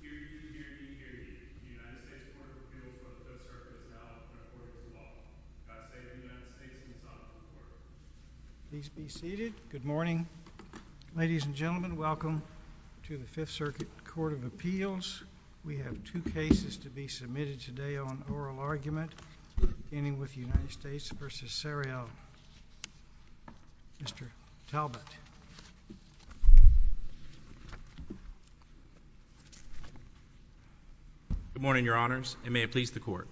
Hear you, hear you, hear you. The United States Court of Appeals, Joseph Serkis, announces the Court of Law. God save the United States and the Son of the Lord. Please be seated. Good morning. Ladies and gentlemen, welcome to the Fifth Circuit Court of Appeals. We have two cases to be submitted today on oral argument, beginning with United States v. Louisiana. Good morning, Your Honors, and may it please the Court.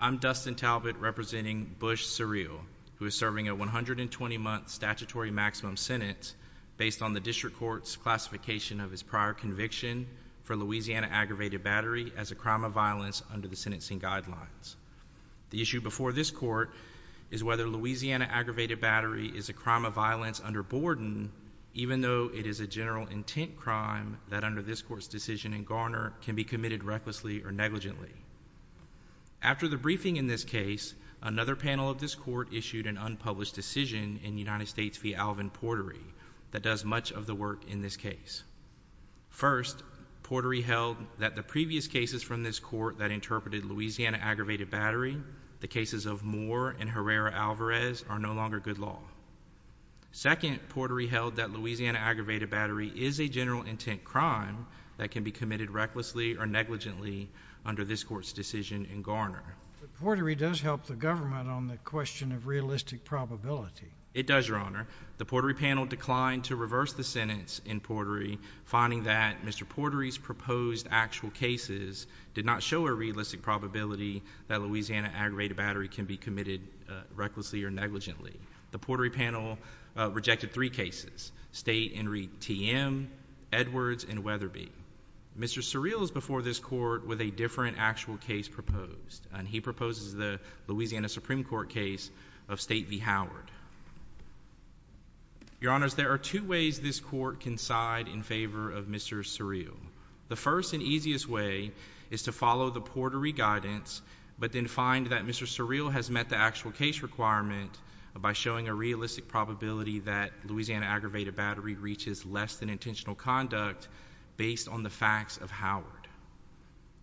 I'm Dustin Talbott representing Bush-Surreal, who is serving a 120-month statutory maximum sentence based on the District Court's classification of his prior conviction for Louisiana aggravated battery as a crime of violence under the sentencing guidelines. The issue before this Court is whether Louisiana aggravated battery is a crime of violence under Borden, even though it is a general intent crime that under this Court's decision in Garner can be committed recklessly or negligently. After the briefing in this case, another panel of this Court issued an unpublished decision in United States v. Alvin Portery that does much of the work in this case. First, Portery held that the previous cases from this Court that interpreted Louisiana aggravated battery, the cases of Moore and Herrera-Alvarez, are no longer good law. Second, Portery held that Louisiana aggravated battery is a general intent crime that can be committed recklessly or negligently under this Court's decision in Garner. Portery does help the government on the question of realistic probability. It does, Your Honor. The Portery panel declined to reverse the sentence in Portery, finding that Mr. Portery's proposed actual cases did not show a realistic probability that Louisiana aggravated battery can be committed recklessly or negligently. The Portery panel rejected three cases, State and T.M., Edwards, and Weatherby. Mr. Surreal is before this Court with a different actual case proposed, and he proposes the Louisiana Supreme Court case of State v. Howard. Your Honors, there are two ways this Court can side in favor of Mr. Surreal. The first and easiest way is to follow the Portery guidance, but then find that Mr. Surreal has met the actual case requirement by showing a realistic probability that Louisiana aggravated battery reaches less than intentional conduct based on the facts of Howard.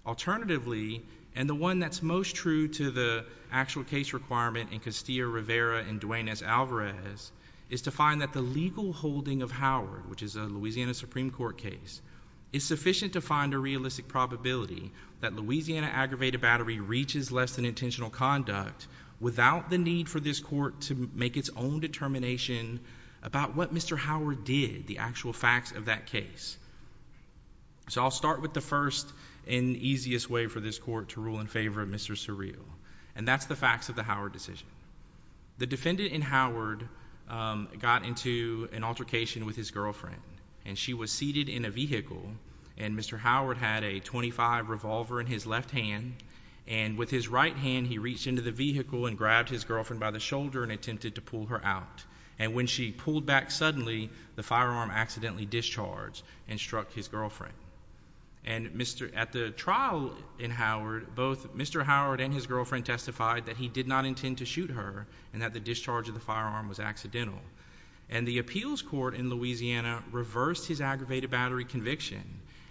Alternatively, and the one that's most true to the actual case requirement in Castillo-Rivera and Duane S. Alvarez, is to find that the legal holding of Howard, which is a Louisiana Supreme Court case, is sufficient to find a realistic probability that Louisiana aggravated battery reaches less than intentional conduct without the need for this Court to make its own determination about what Mr. Howard did, the actual facts of that case. So I'll start with the first and easiest way for this Court to rule in favor of Mr. Surreal, and that's the facts of the Howard decision. The defendant in Howard got into an altercation with his girlfriend, and she was seated in a vehicle, and Mr. Howard had a .25 revolver in his left hand, and with his right hand, he reached into the vehicle and grabbed his girlfriend by the shoulder and attempted to pull her out. And when she pulled back suddenly, the firearm accidentally discharged and struck his girlfriend. And at the trial in Howard, both Mr. Howard and his girlfriend testified that he did not intend to shoot her and that the discharge of the firearm was accidental. And the appeals court in Louisiana reversed his aggravated battery conviction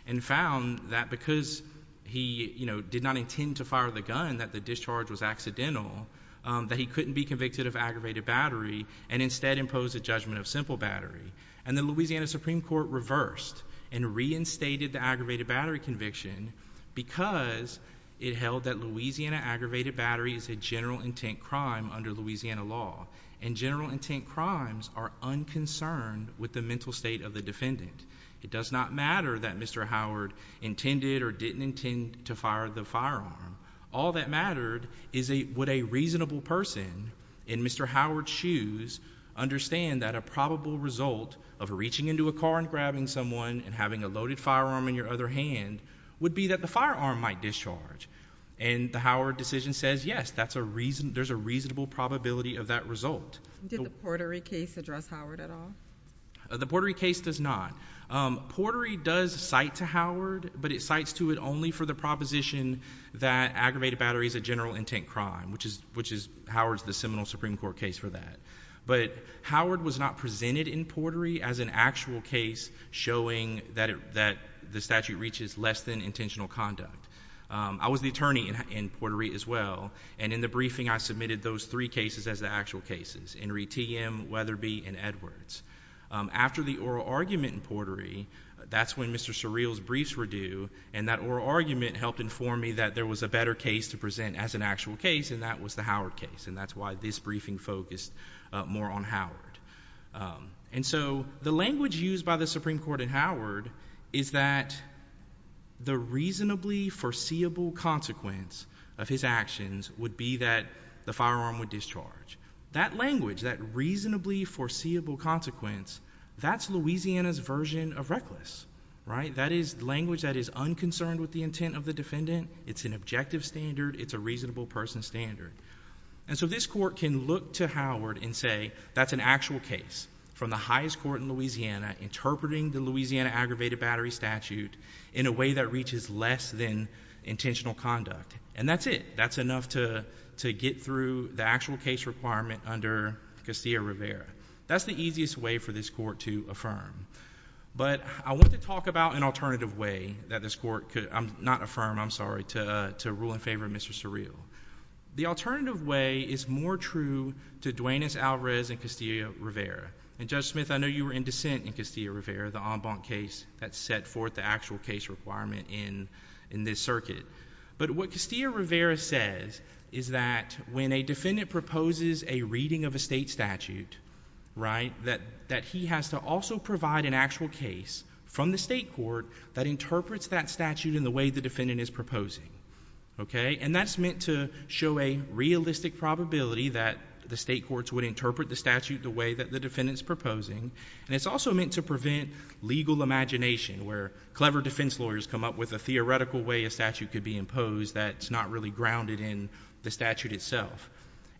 and found that because he, you know, did not intend to fire the gun, that the discharge was accidental, that he couldn't be convicted of aggravated battery and instead imposed a judgment of simple battery. And the Louisiana Supreme Court reversed and reinstated the aggravated battery conviction because it held that Louisiana aggravated battery is a general intent crime under Louisiana law, and general intent crimes are unconcerned with the mental state of the defendant. It does not matter that Mr. Howard intended or didn't intend to fire the firearm. All that mattered is would a reasonable person in Mr. Howard's shoes understand that a probable result of reaching into a car and grabbing someone and having a loaded firearm in your other hand would be that the firearm might be charged. And the Howard decision says, yes, that's a reason, there's a reasonable probability of that result. Did the Portery case address Howard at all? The Portery case does not. Portery does cite to Howard, but it cites to it only for the proposition that aggravated battery is a general intent crime, which is, which is Howard's the Seminole Supreme Court case for that. But Howard was not presented in Portery as an actual case showing that, that the statute reaches less than intentional conduct. I was the attorney in Portery as well, and in the briefing I submitted those three cases as the actual cases, Henry T.M., Weatherby, and Edwards. After the oral argument in Portery, that's when Mr. Surreal's briefs were due, and that oral argument helped inform me that there was a better case to present as an actual case, and that was the Howard case, and that's why this briefing focused more on Howard. And so, the language used by the Supreme Court in Howard is that the reasonably foreseeable consequence of his actions would be that the firearm would discharge. That language, that reasonably foreseeable consequence, that's Louisiana's version of reckless, right? That is language that is unconcerned with the intent of the defendant, it's an objective standard, it's a reasonable person standard. And so this court can look to Howard and say, that's an actual case from the highest court in Louisiana, interpreting the Louisiana aggravated battery statute in a way that reaches less than intentional conduct. And that's it. That's enough to get through the actual case requirement under Castillo-Rivera. That's the easiest way for this court to affirm. But I want to talk about an alternative way that this court could, not affirm, I'm sorry, to rule in favor of Mr. Surreal. The alternative way is more true to Duanez-Alvarez and Castillo-Rivera. And Judge Smith, I know you were in dissent in Castillo-Rivera, the en banc case that set forth the actual case requirement in this circuit. But what Castillo-Rivera says is that when a defendant proposes a reading of a state statute, right, that he has to also provide an actual case from the state court that interprets that statute in the way the defendant is proposing. Okay? And that's meant to show a realistic probability that the state courts would interpret the statute the way that the defendant's proposing. And it's also meant to prevent legal imagination, where clever defense lawyers come up with a theoretical way a statute could be imposed that's not really grounded in the statute itself.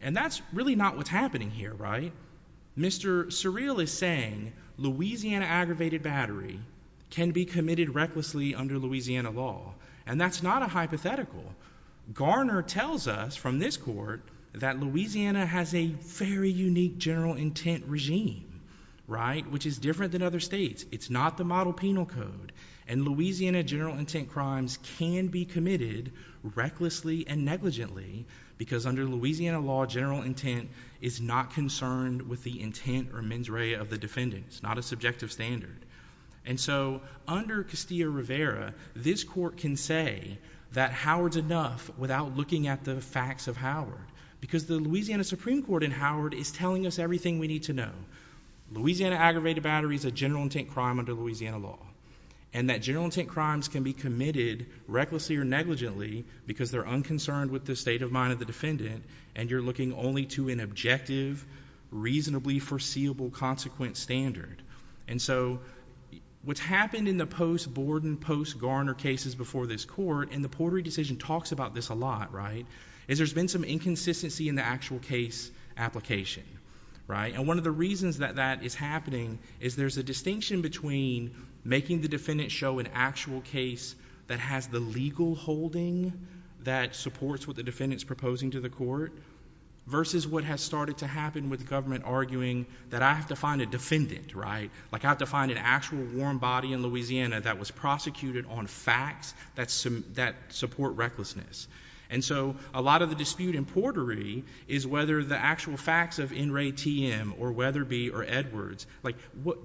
And that's really not what's happening here, right? Mr. Surreal is saying Louisiana aggravated battery can be committed recklessly under Louisiana law. And that's not a hypothetical. Garner tells us from this court that Louisiana has a very unique general intent regime, right, which is different than other states. It's not the model penal code. And Louisiana general intent crimes can be committed recklessly and negligently, because under Louisiana law general intent is not concerned with the intent or mens rea of the defendants, not a subjective standard. And so under Castillo-Rivera, this court can say that Howard's enough without looking at the facts of Howard. Because the Louisiana Supreme Court in Howard is telling us everything we need to know. Louisiana aggravated battery is a general intent crime under Louisiana law. And that general intent crimes can be committed recklessly or negligently, because they're unconcerned with the state of mind of the defendant, and you're looking only to an objective, reasonably foreseeable consequent standard. And so what's happened in the post-Borden, post-Garner cases before this court, and the Portery decision talks about this a lot, right, is there's been some inconsistency in the actual case application, right? And one of the reasons that that is happening is there's a distinction between making the defendant show an actual case that has the legal holding that supports what the defendant's proposing to the court versus what has started to happen with government arguing that I have to find a defendant, right? Like I have to find an actual warm body in Louisiana that was prosecuted on facts that support recklessness. And so a lot of the dispute in Portery is whether the actual facts of N. Ray T.M. or Weatherby or Edwards, like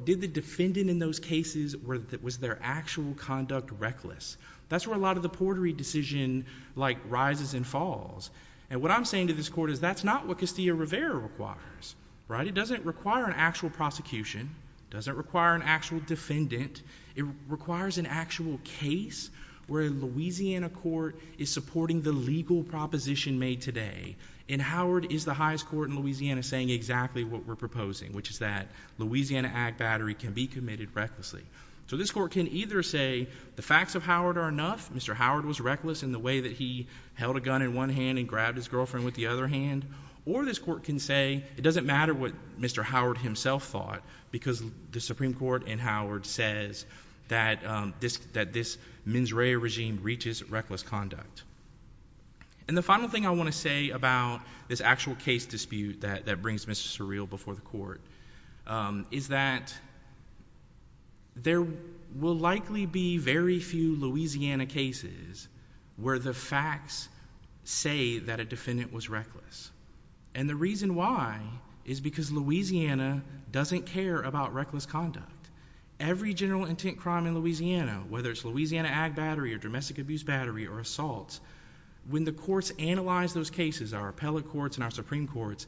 did the defendant in those cases, was their actual conduct reckless? That's where a lot of the Portery decision like rises and falls. And what I'm saying to this court is that's not what Castillo-Rivera requires, right? It doesn't require an actual prosecution. It doesn't require an actual defendant. It requires an actual case where a Louisiana court is supporting the legal proposition made today. And Howard is the highest court in Louisiana saying exactly what we're proposing, which is that Louisiana ag battery can be committed recklessly. So this court can either say the facts of Howard are enough, Mr. Howard was reckless in the way that he held a gun in one hand and grabbed his girlfriend with the other hand, or this court can say it doesn't matter what Mr. Howard himself thought because the Supreme Court and Howard says that this mens rea regime reaches reckless conduct. And the final thing I want to say about this actual case dispute that brings Mr. Surreal before the court is that there will likely be very few Louisiana cases where the facts say that a defendant was reckless. And the reason why is because Louisiana doesn't care about reckless conduct. Every general intent crime in Louisiana, whether it's Louisiana ag battery or domestic abuse battery or assaults, when the courts analyze those cases, our appellate courts and our defendants,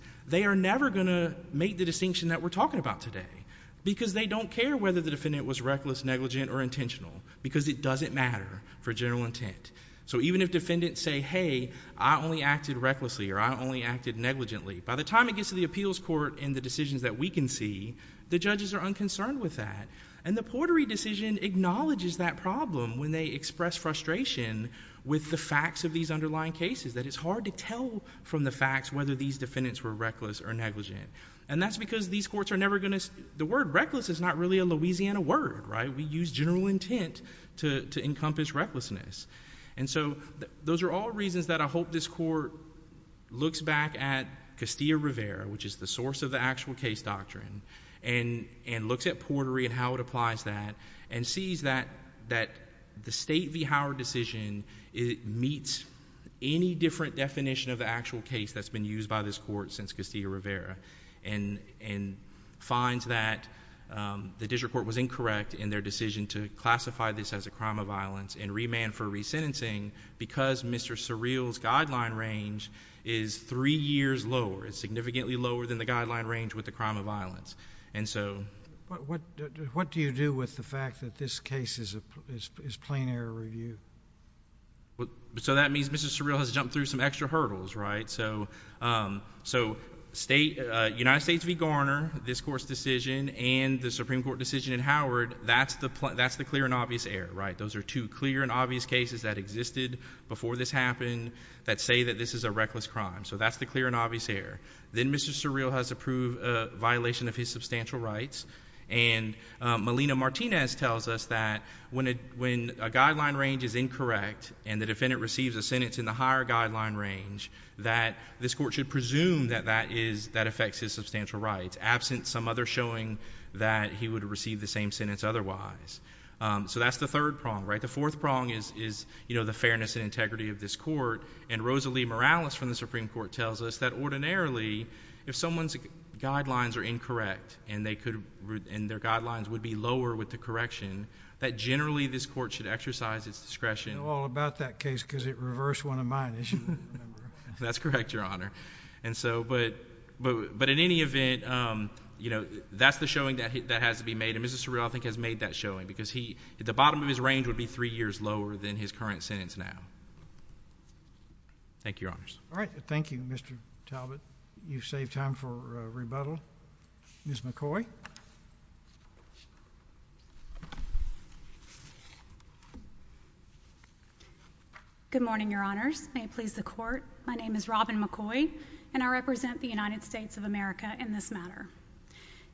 because they don't care whether the defendant was reckless, negligent or intentional because it doesn't matter for general intent. So even if defendants say, hey, I only acted recklessly or I only acted negligently, by the time it gets to the appeals court and the decisions that we can see, the judges are unconcerned with that. And the Portery decision acknowledges that problem when they express frustration with the facts of these underlying cases, that it's hard to tell from the facts whether these defendants were reckless or negligent. And that's because these courts are never going to, the word reckless is not really a Louisiana word, right? We use general intent to encompass recklessness. And so those are all reasons that I hope this court looks back at Castillo Rivera, which is the source of the actual case doctrine and looks at Portery and how it applies that and sees that the state v. Howard decision meets any different definition of the actual case that's been used by this court since Castillo Rivera and finds that the district court was incorrect in their decision to classify this as a crime of violence and remand for resentencing because Mr. Surreal's guideline range is three years lower. It's significantly lower than the guideline range with the crime of violence. And so... What do you do with the fact that this case is plain error review? So that means Mr. Surreal has jumped through some extra hurdles, right? So, so state, United States v. Garner, this court's decision and the Supreme Court decision in Howard, that's the, that's the clear and obvious error, right? Those are two clear and obvious cases that existed before this happened that say that this is a reckless crime. So that's the clear and obvious error. Then Mr. Surreal has approved a violation of his substantial rights. And Melina Martinez tells us that when a guideline range is incorrect and the defendant receives a sentence in the higher guideline range, that this court should presume that that is, that affects his substantial rights, absent some other showing that he would receive the same sentence otherwise. So that's the third prong, right? The fourth prong is, is, you know, the fairness and integrity of this court. And Rosalie Morales from the Supreme Court tells us that ordinarily, if someone's guidelines are incorrect and they could, and their guidelines would be lower with the correction, that generally this court should exercise its discretion. I know all about that case because it reversed one of mine, as you remember. That's correct, Your Honor. And so, but, but, but in any event, you know, that's the showing that has to be made. And Mr. Surreal, I think, has made that showing because he, the bottom of his range would be three years lower than his current sentence now. Thank you, Your Honors. All right. Thank you, Mr. Talbot. You've saved time for rebuttal. Ms. McCoy. Good morning, Your Honors. May it please the Court. My name is Robin McCoy, and I represent the United States of America in this matter.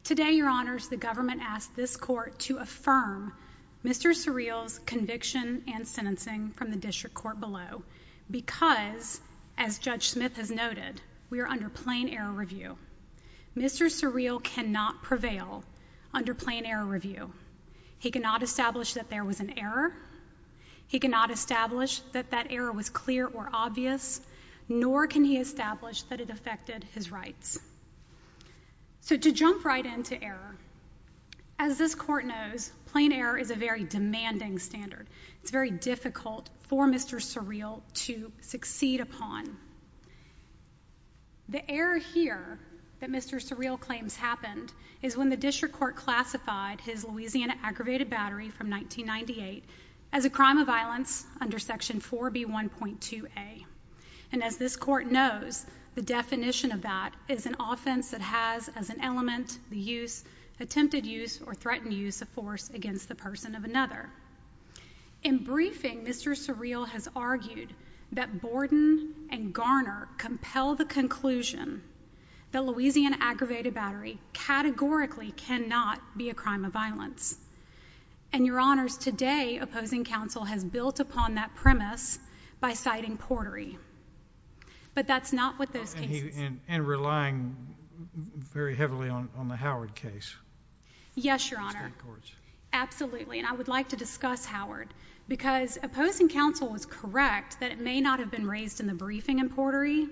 Today, Your Honors, the government asked this court to affirm Mr. Surreal's conviction and sentencing from the district court below because, as Judge Smith has noted, we are under plain error review. Mr. Surreal cannot prevail under plain error review. He cannot establish that there was an error. He cannot establish that that error was clear or obvious, nor can he establish that it affected his rights. So to jump right into error, as this court knows, plain error is a very demanding standard. It's very difficult for Mr. Surreal to succeed upon. The error here that Mr. Surreal claims happened is when the district court classified his Louisiana aggravated battery from 1998 as a crime of violence under Section 4B1.2a. And as this court knows, the definition of that is an offense that has as an element the use, attempted use, or threatened use as a force against the person of another. In briefing, Mr. Surreal has argued that Borden and Garner compel the conclusion that Louisiana aggravated battery categorically cannot be a crime of violence. And, Your Honors, today opposing counsel has built upon that premise by citing Portery. But that's not what those cases... You're relying very heavily on the Howard case. Yes, Your Honor. Absolutely. And I would like to discuss Howard because opposing counsel was correct that it may not have been raised in the briefing in Portery,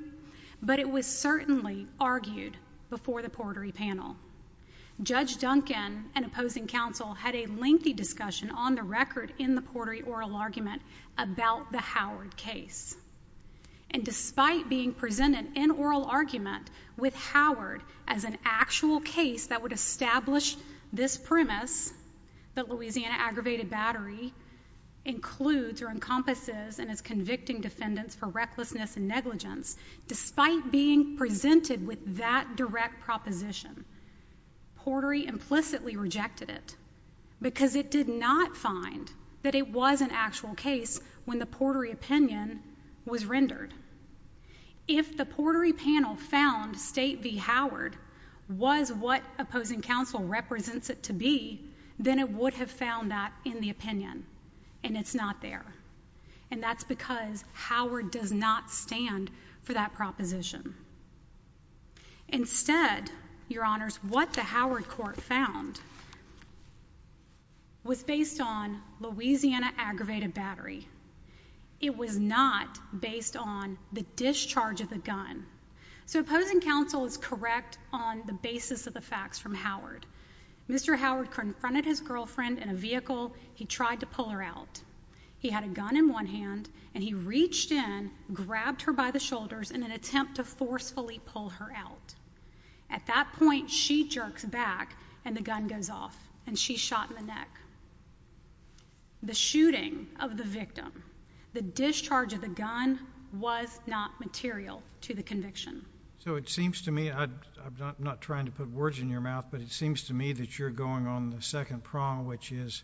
but it was certainly argued before the Portery panel. Judge Duncan and opposing counsel had a lengthy discussion on the record in the Portery oral argument about the Howard case. And despite being presented in oral argument with Howard as an actual case that would establish this premise that Louisiana aggravated battery includes or encompasses in its convicting defendants for recklessness and negligence, despite being presented with that direct proposition, Portery implicitly rejected it because it did not find that it was an actual case when the Portery opinion was rendered. If the Portery panel found State v. Howard was what opposing counsel represents it to be, then it would have found that in the opinion. And it's not there. And that's because Howard does not stand for that proposition. Instead, Your Honors, what the Howard court found was based on Louisiana aggravated battery. It was not a case that was based on Louisiana aggravated battery. It was not based on the discharge of the gun. So opposing counsel is correct on the basis of the facts from Howard. Mr. Howard confronted his girlfriend in a vehicle. He tried to pull her out. He had a gun in one hand and he reached in, grabbed her by the shoulders in an attempt to forcefully pull her out. At that point, she jerks back and the gun goes off and she's shot in the neck. The shooting of the victim, the discharge of the gun was not material to the conviction. So it seems to me, I'm not trying to put words in your mouth, but it seems to me that you're going on the second prong, which is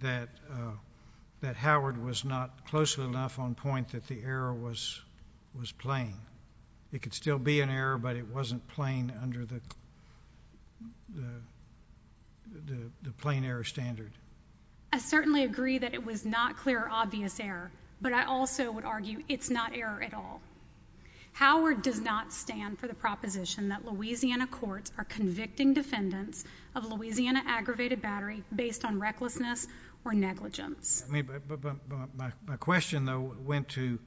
that Howard was not close enough on point that the error was plain. It could still be an error, but it wasn't plain under the plain error standard. I certainly agree that it was not clear or obvious error, but I also would argue it's not error at all. Howard does not stand for the proposition that Louisiana courts are convicting defendants of Louisiana aggravated battery based on recklessness or negligence. My question, though, went to,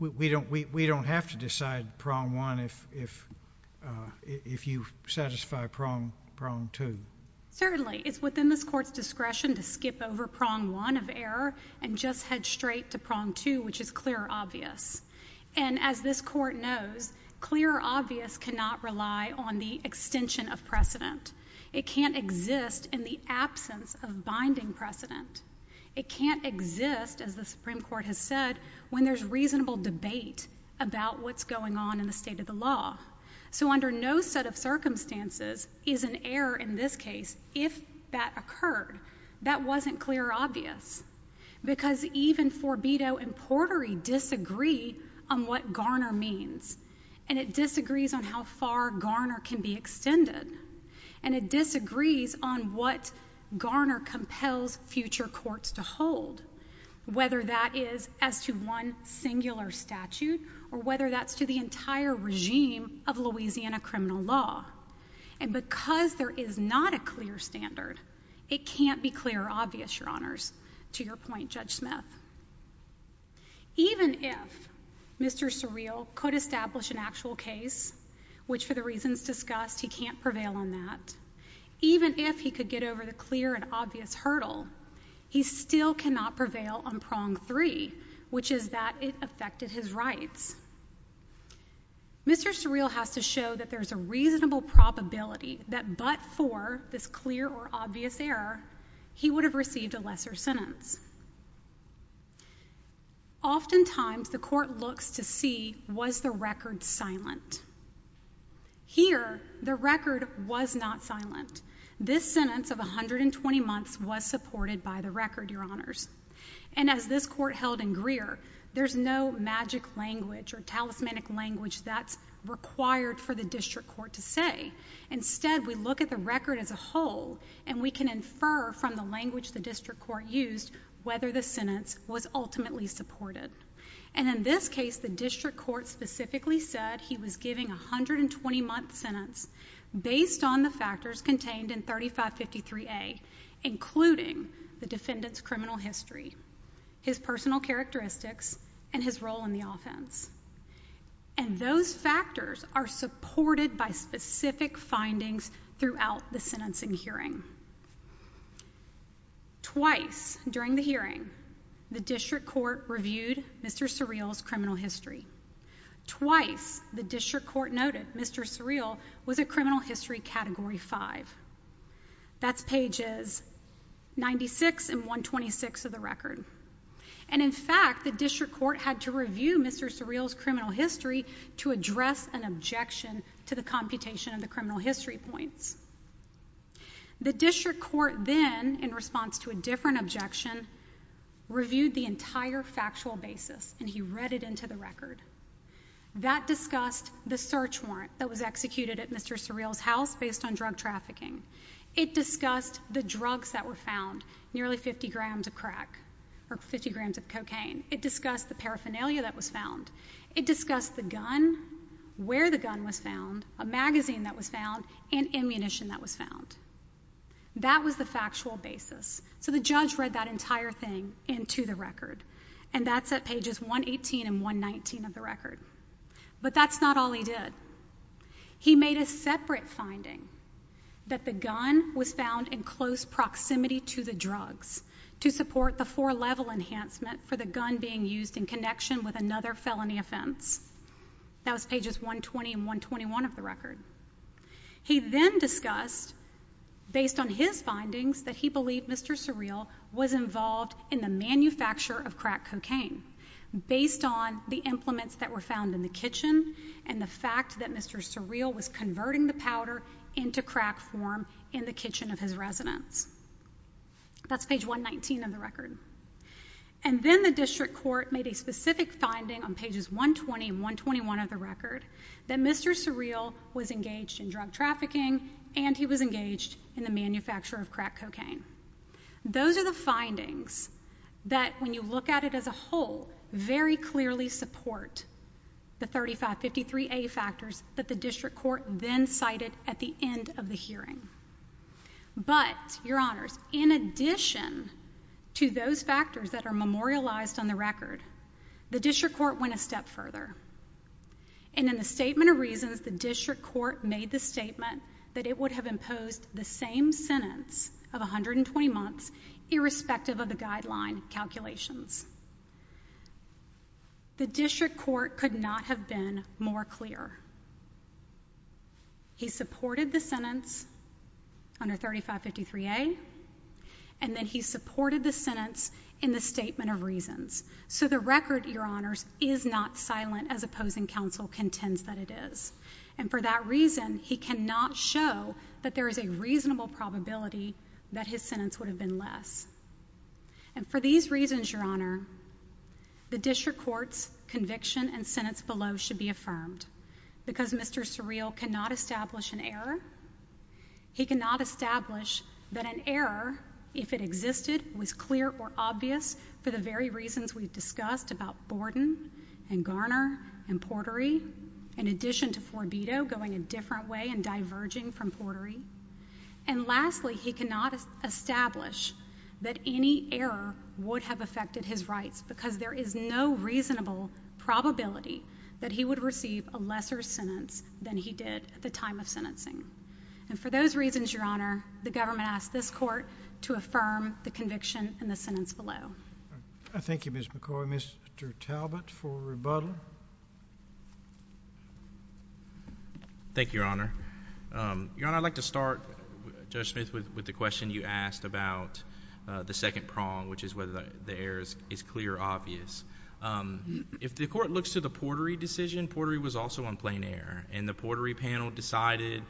we don't have to decide prong one if you satisfy prong two. Certainly. It's within this court's discretion to skip over prong one of error and just head straight to prong two, which is clear or obvious. And as this court knows, clear or obvious cannot rely on the extension of precedent. It can't exist in the absence of binding precedent. It can't exist, as the Supreme Court has said, when there's reasonable debate about what's going on in the state of the law. So under no set of circumstances is an error in this case if that occurred. That wasn't clear or obvious, because even Forbido and Portery disagree on what Garner means, and it disagrees on how far Garner can be extended, and it disagrees on what Garner compels future courts to hold, whether that is as to one singular statute or whether that's to the entire regime of Louisiana criminal law. And because there is not a clear standard, it can't be clear or obvious, your honors. To your point, Judge Smith, even if Mr. Surreal could establish an actual case, which for the reasons discussed, he can't prevail on that, even if he could get over the clear and obvious hurdle, he still cannot prevail on prong three, which is that it affected his rights. Mr. Surreal has to show that there's a reasonable probability that but for this clear or obvious error, he would have received a lesser sentence. Oftentimes the court looks to see, was the record silent? Here, the record was not silent. This sentence of 120 months was supported by the record, your honors. And as this court held in Greer, there's no magic language or talismanic language that's required for the district court to say. Instead, we look at the record as a whole, and we can infer from the language the district court used whether the sentence was ultimately supported. And in this case, the district court specifically said he was giving a 120-month sentence based on the factors contained in 3553A, including the defendant's criminal history, his personal characteristics, and his role in the offense. And those factors are supported by specific findings throughout the sentencing hearing. Twice during the hearing, the district court reviewed Mr. Surreal's criminal history. Twice the district court noted Mr. Surreal was a criminal history category 5. That's pages 96 and 126 of the record. And in fact, the district court had to review Mr. Surreal's criminal history to address an objection to the computation of the criminal history points. The district court then, in response to a different objection, reviewed the entire factual basis, and he read it into the record. That discussed the search warrant that was executed at Mr. Surreal's house based on drug trafficking. It discussed the drugs that were found, nearly 50 grams of crack, or 50 grams of cocaine. It discussed the paraphernalia that was found. It discussed the gun, where the gun was found, a magazine that was found, and ammunition that was found. That was the factual basis. So the judge read that entire thing into the record, and that's at pages 118 and 119 of the record. But that's not all he did. He made a separate finding that the gun was found in close proximity to the drugs to support the four-level enhancement for the gun being used in connection with another felony offense. That was pages 120 and 121 of the record. He then discussed, based on his findings, that he believed Mr. Surreal was involved in the manufacture of crack cocaine, based on the implements that were found in the kitchen and the fact that Mr. Surreal was converting the powder into crack form in the kitchen of his residence. That's page 119 of the record. And then the district court made a specific finding on pages 120 and 121 of the record that Mr. Surreal was engaged in drug trafficking and he was engaged in the manufacture of crack cocaine. Those are the findings that, when you look at it as a whole, very clearly support the 3553A factors that the district court then cited at the end of the hearing. But, Your Honors, in addition to those factors that are memorialized on the record, the district court went a step further. And in the Statement of Reasons, the district court made the statement that it would have imposed the same sentence of 120 months, irrespective of the guideline calculations. The district court could not have been more clear. He supported the sentence under 3553A, and then he supported the sentence in the Statement of Reasons. So the record, Your Honors, is not silent as opposing counsel contends that it is. And for that reason, he cannot show that there is a reasonable probability that his sentence would have been less. And for these reasons, Your Honor, the district court's conviction and sentence below should be affirmed. Because Mr. Surreal cannot establish an error, he cannot establish that an error, if it existed, was clear or obvious for the very reasons we've discussed about Borden and Garner and Portery, in addition to Forbido going a different way and diverging from Portery. And lastly, he cannot establish that any error would have affected his rights, because there is no reasonable probability that he would receive a lesser sentence than he did at the time of sentencing. And for those reasons, Your Honor, the government asks this court to affirm the conviction and the sentence below. I thank you, Ms. McCoy. Mr. Talbot for rebuttal. Thank you, Your Honor. Your Honor, I'd like to start, Judge Smith, with the question you asked about the second prong, which is whether the error is clear or obvious. If the court looks to the Portery decision, Portery was also on plain error. And the Portery panel decided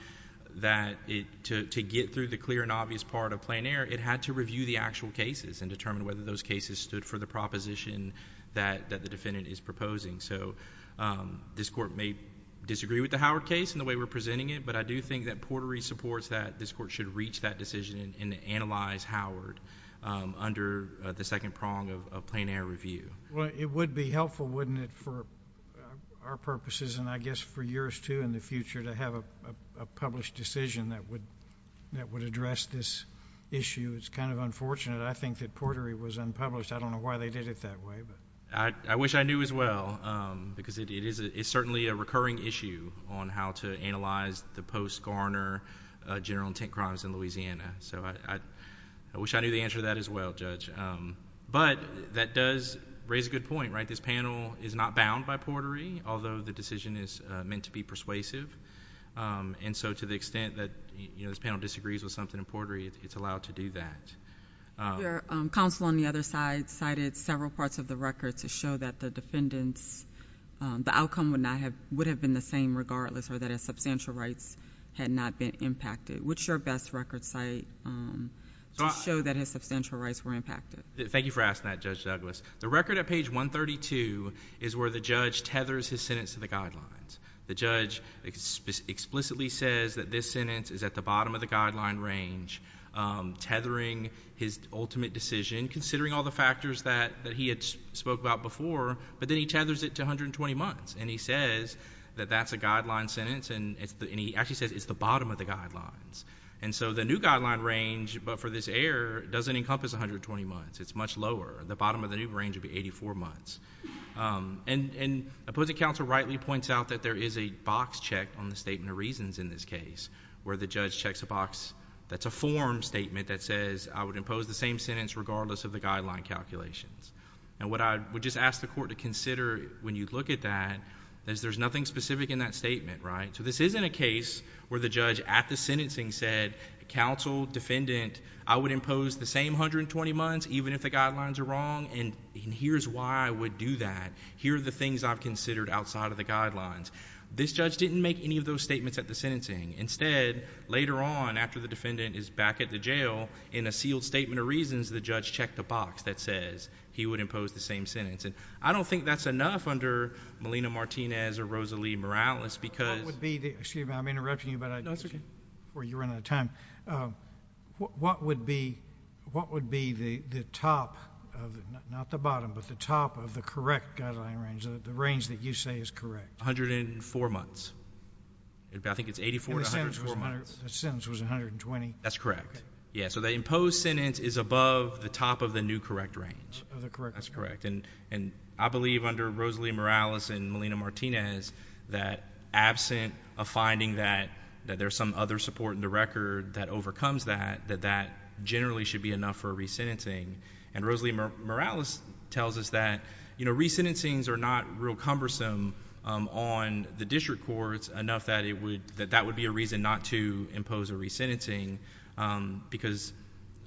that to get through the clear and obvious part of plain error, it had to review the actual cases and determine whether those cases stood for the proposition that the defendant is proposing. So this court may disagree with the Howard case and the way we're presenting it, but I do think that Portery supports that this court should reach that decision and analyze Howard under the second prong of plain error review. Well, it would be helpful, wouldn't it, for our purposes and I guess for yours, too, in the future to have a published decision that would address this issue. It's kind of unfortunate, I think, that Portery was unpublished. I don't know why they did it that way. I wish I knew as well, because it is certainly a recurring issue on how to analyze the post-Garner general intent crimes in Louisiana. So I wish I knew the answer to that as well, Judge. But that does raise a good point, right? This panel is not bound by Portery, although the decision is meant to be persuasive. And so to the extent that, you know, this panel disagrees with something in Portery, it's allowed to do that. Counsel on the other side cited several parts of the record to show that the defendant's — the outcome would not have — would have been the same regardless or that his substantial rights had not been impacted. What's your best record site to show that his substantial rights were impacted? Thank you for asking that, Judge Douglas. The record at page 132 is where the judge tethers his sentence to the guidelines. The judge explicitly says that this sentence is at the bottom of the guideline range, tethering his ultimate decision, considering all the factors that he had spoke about before, but then he tethers it to 120 months. And he says that that's a guideline sentence, and he actually says it's the bottom of the guidelines. And so the new guideline range, but for this error, doesn't encompass 120 months. It's much lower. The bottom of the new range would be 84 months. And opposing counsel rightly points out that there is a box check on the statement of reasons in this case where the judge checks a box that's a form statement that says I would impose the same sentence regardless of the guideline calculations. And what I would just ask the court to consider when you look at that is there's nothing specific in that statement, right? So this isn't a case where the judge at the sentencing said, counsel, defendant, I would impose the same 120 months even if the guidelines are wrong, and here's why I would do that. Here are the things I've considered outside of the guidelines. This judge didn't make any of those statements at the sentencing. Instead, later on, after the defendant is back at the jail, in a sealed statement of reasons, the judge checked a box that says he would impose the same sentence. And I don't think that's enough under Molina Martinez or Rosalie Morales because ---- What would be the ---- excuse me, I'm interrupting you, but I didn't see you before you ran out of time. What would be the top of the ---- not the bottom, but the top of the correct guideline range, the range that you say is correct? One hundred and four months. I think it's 84 to 104 months. And the sentence was 120? That's correct. Yeah, so the imposed sentence is above the top of the new correct range. Of the correct range. That's correct. And I believe under Rosalie Morales and Molina Martinez that absent of finding that there's some other support in the record that overcomes that, that that generally should be enough for resentencing. And Rosalie Morales tells us that resentencings are not real cumbersome on the district courts enough that it would, that that would be a reason not to impose a resentencing because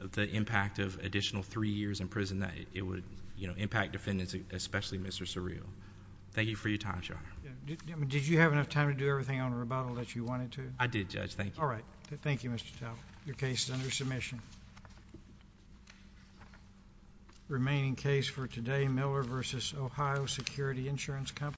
of the impact of additional three years in prison that it would, you know, impact defendants, especially Mr. Surreal. Thank you for your time, Your Honor. Did you have enough time to do everything on rebuttal that you wanted to? I did, Judge. Thank you. All right. Thank you, Mr. Talbot. Your case is under submission. Remaining case for today, Miller v. Ohio Security Insurance Company.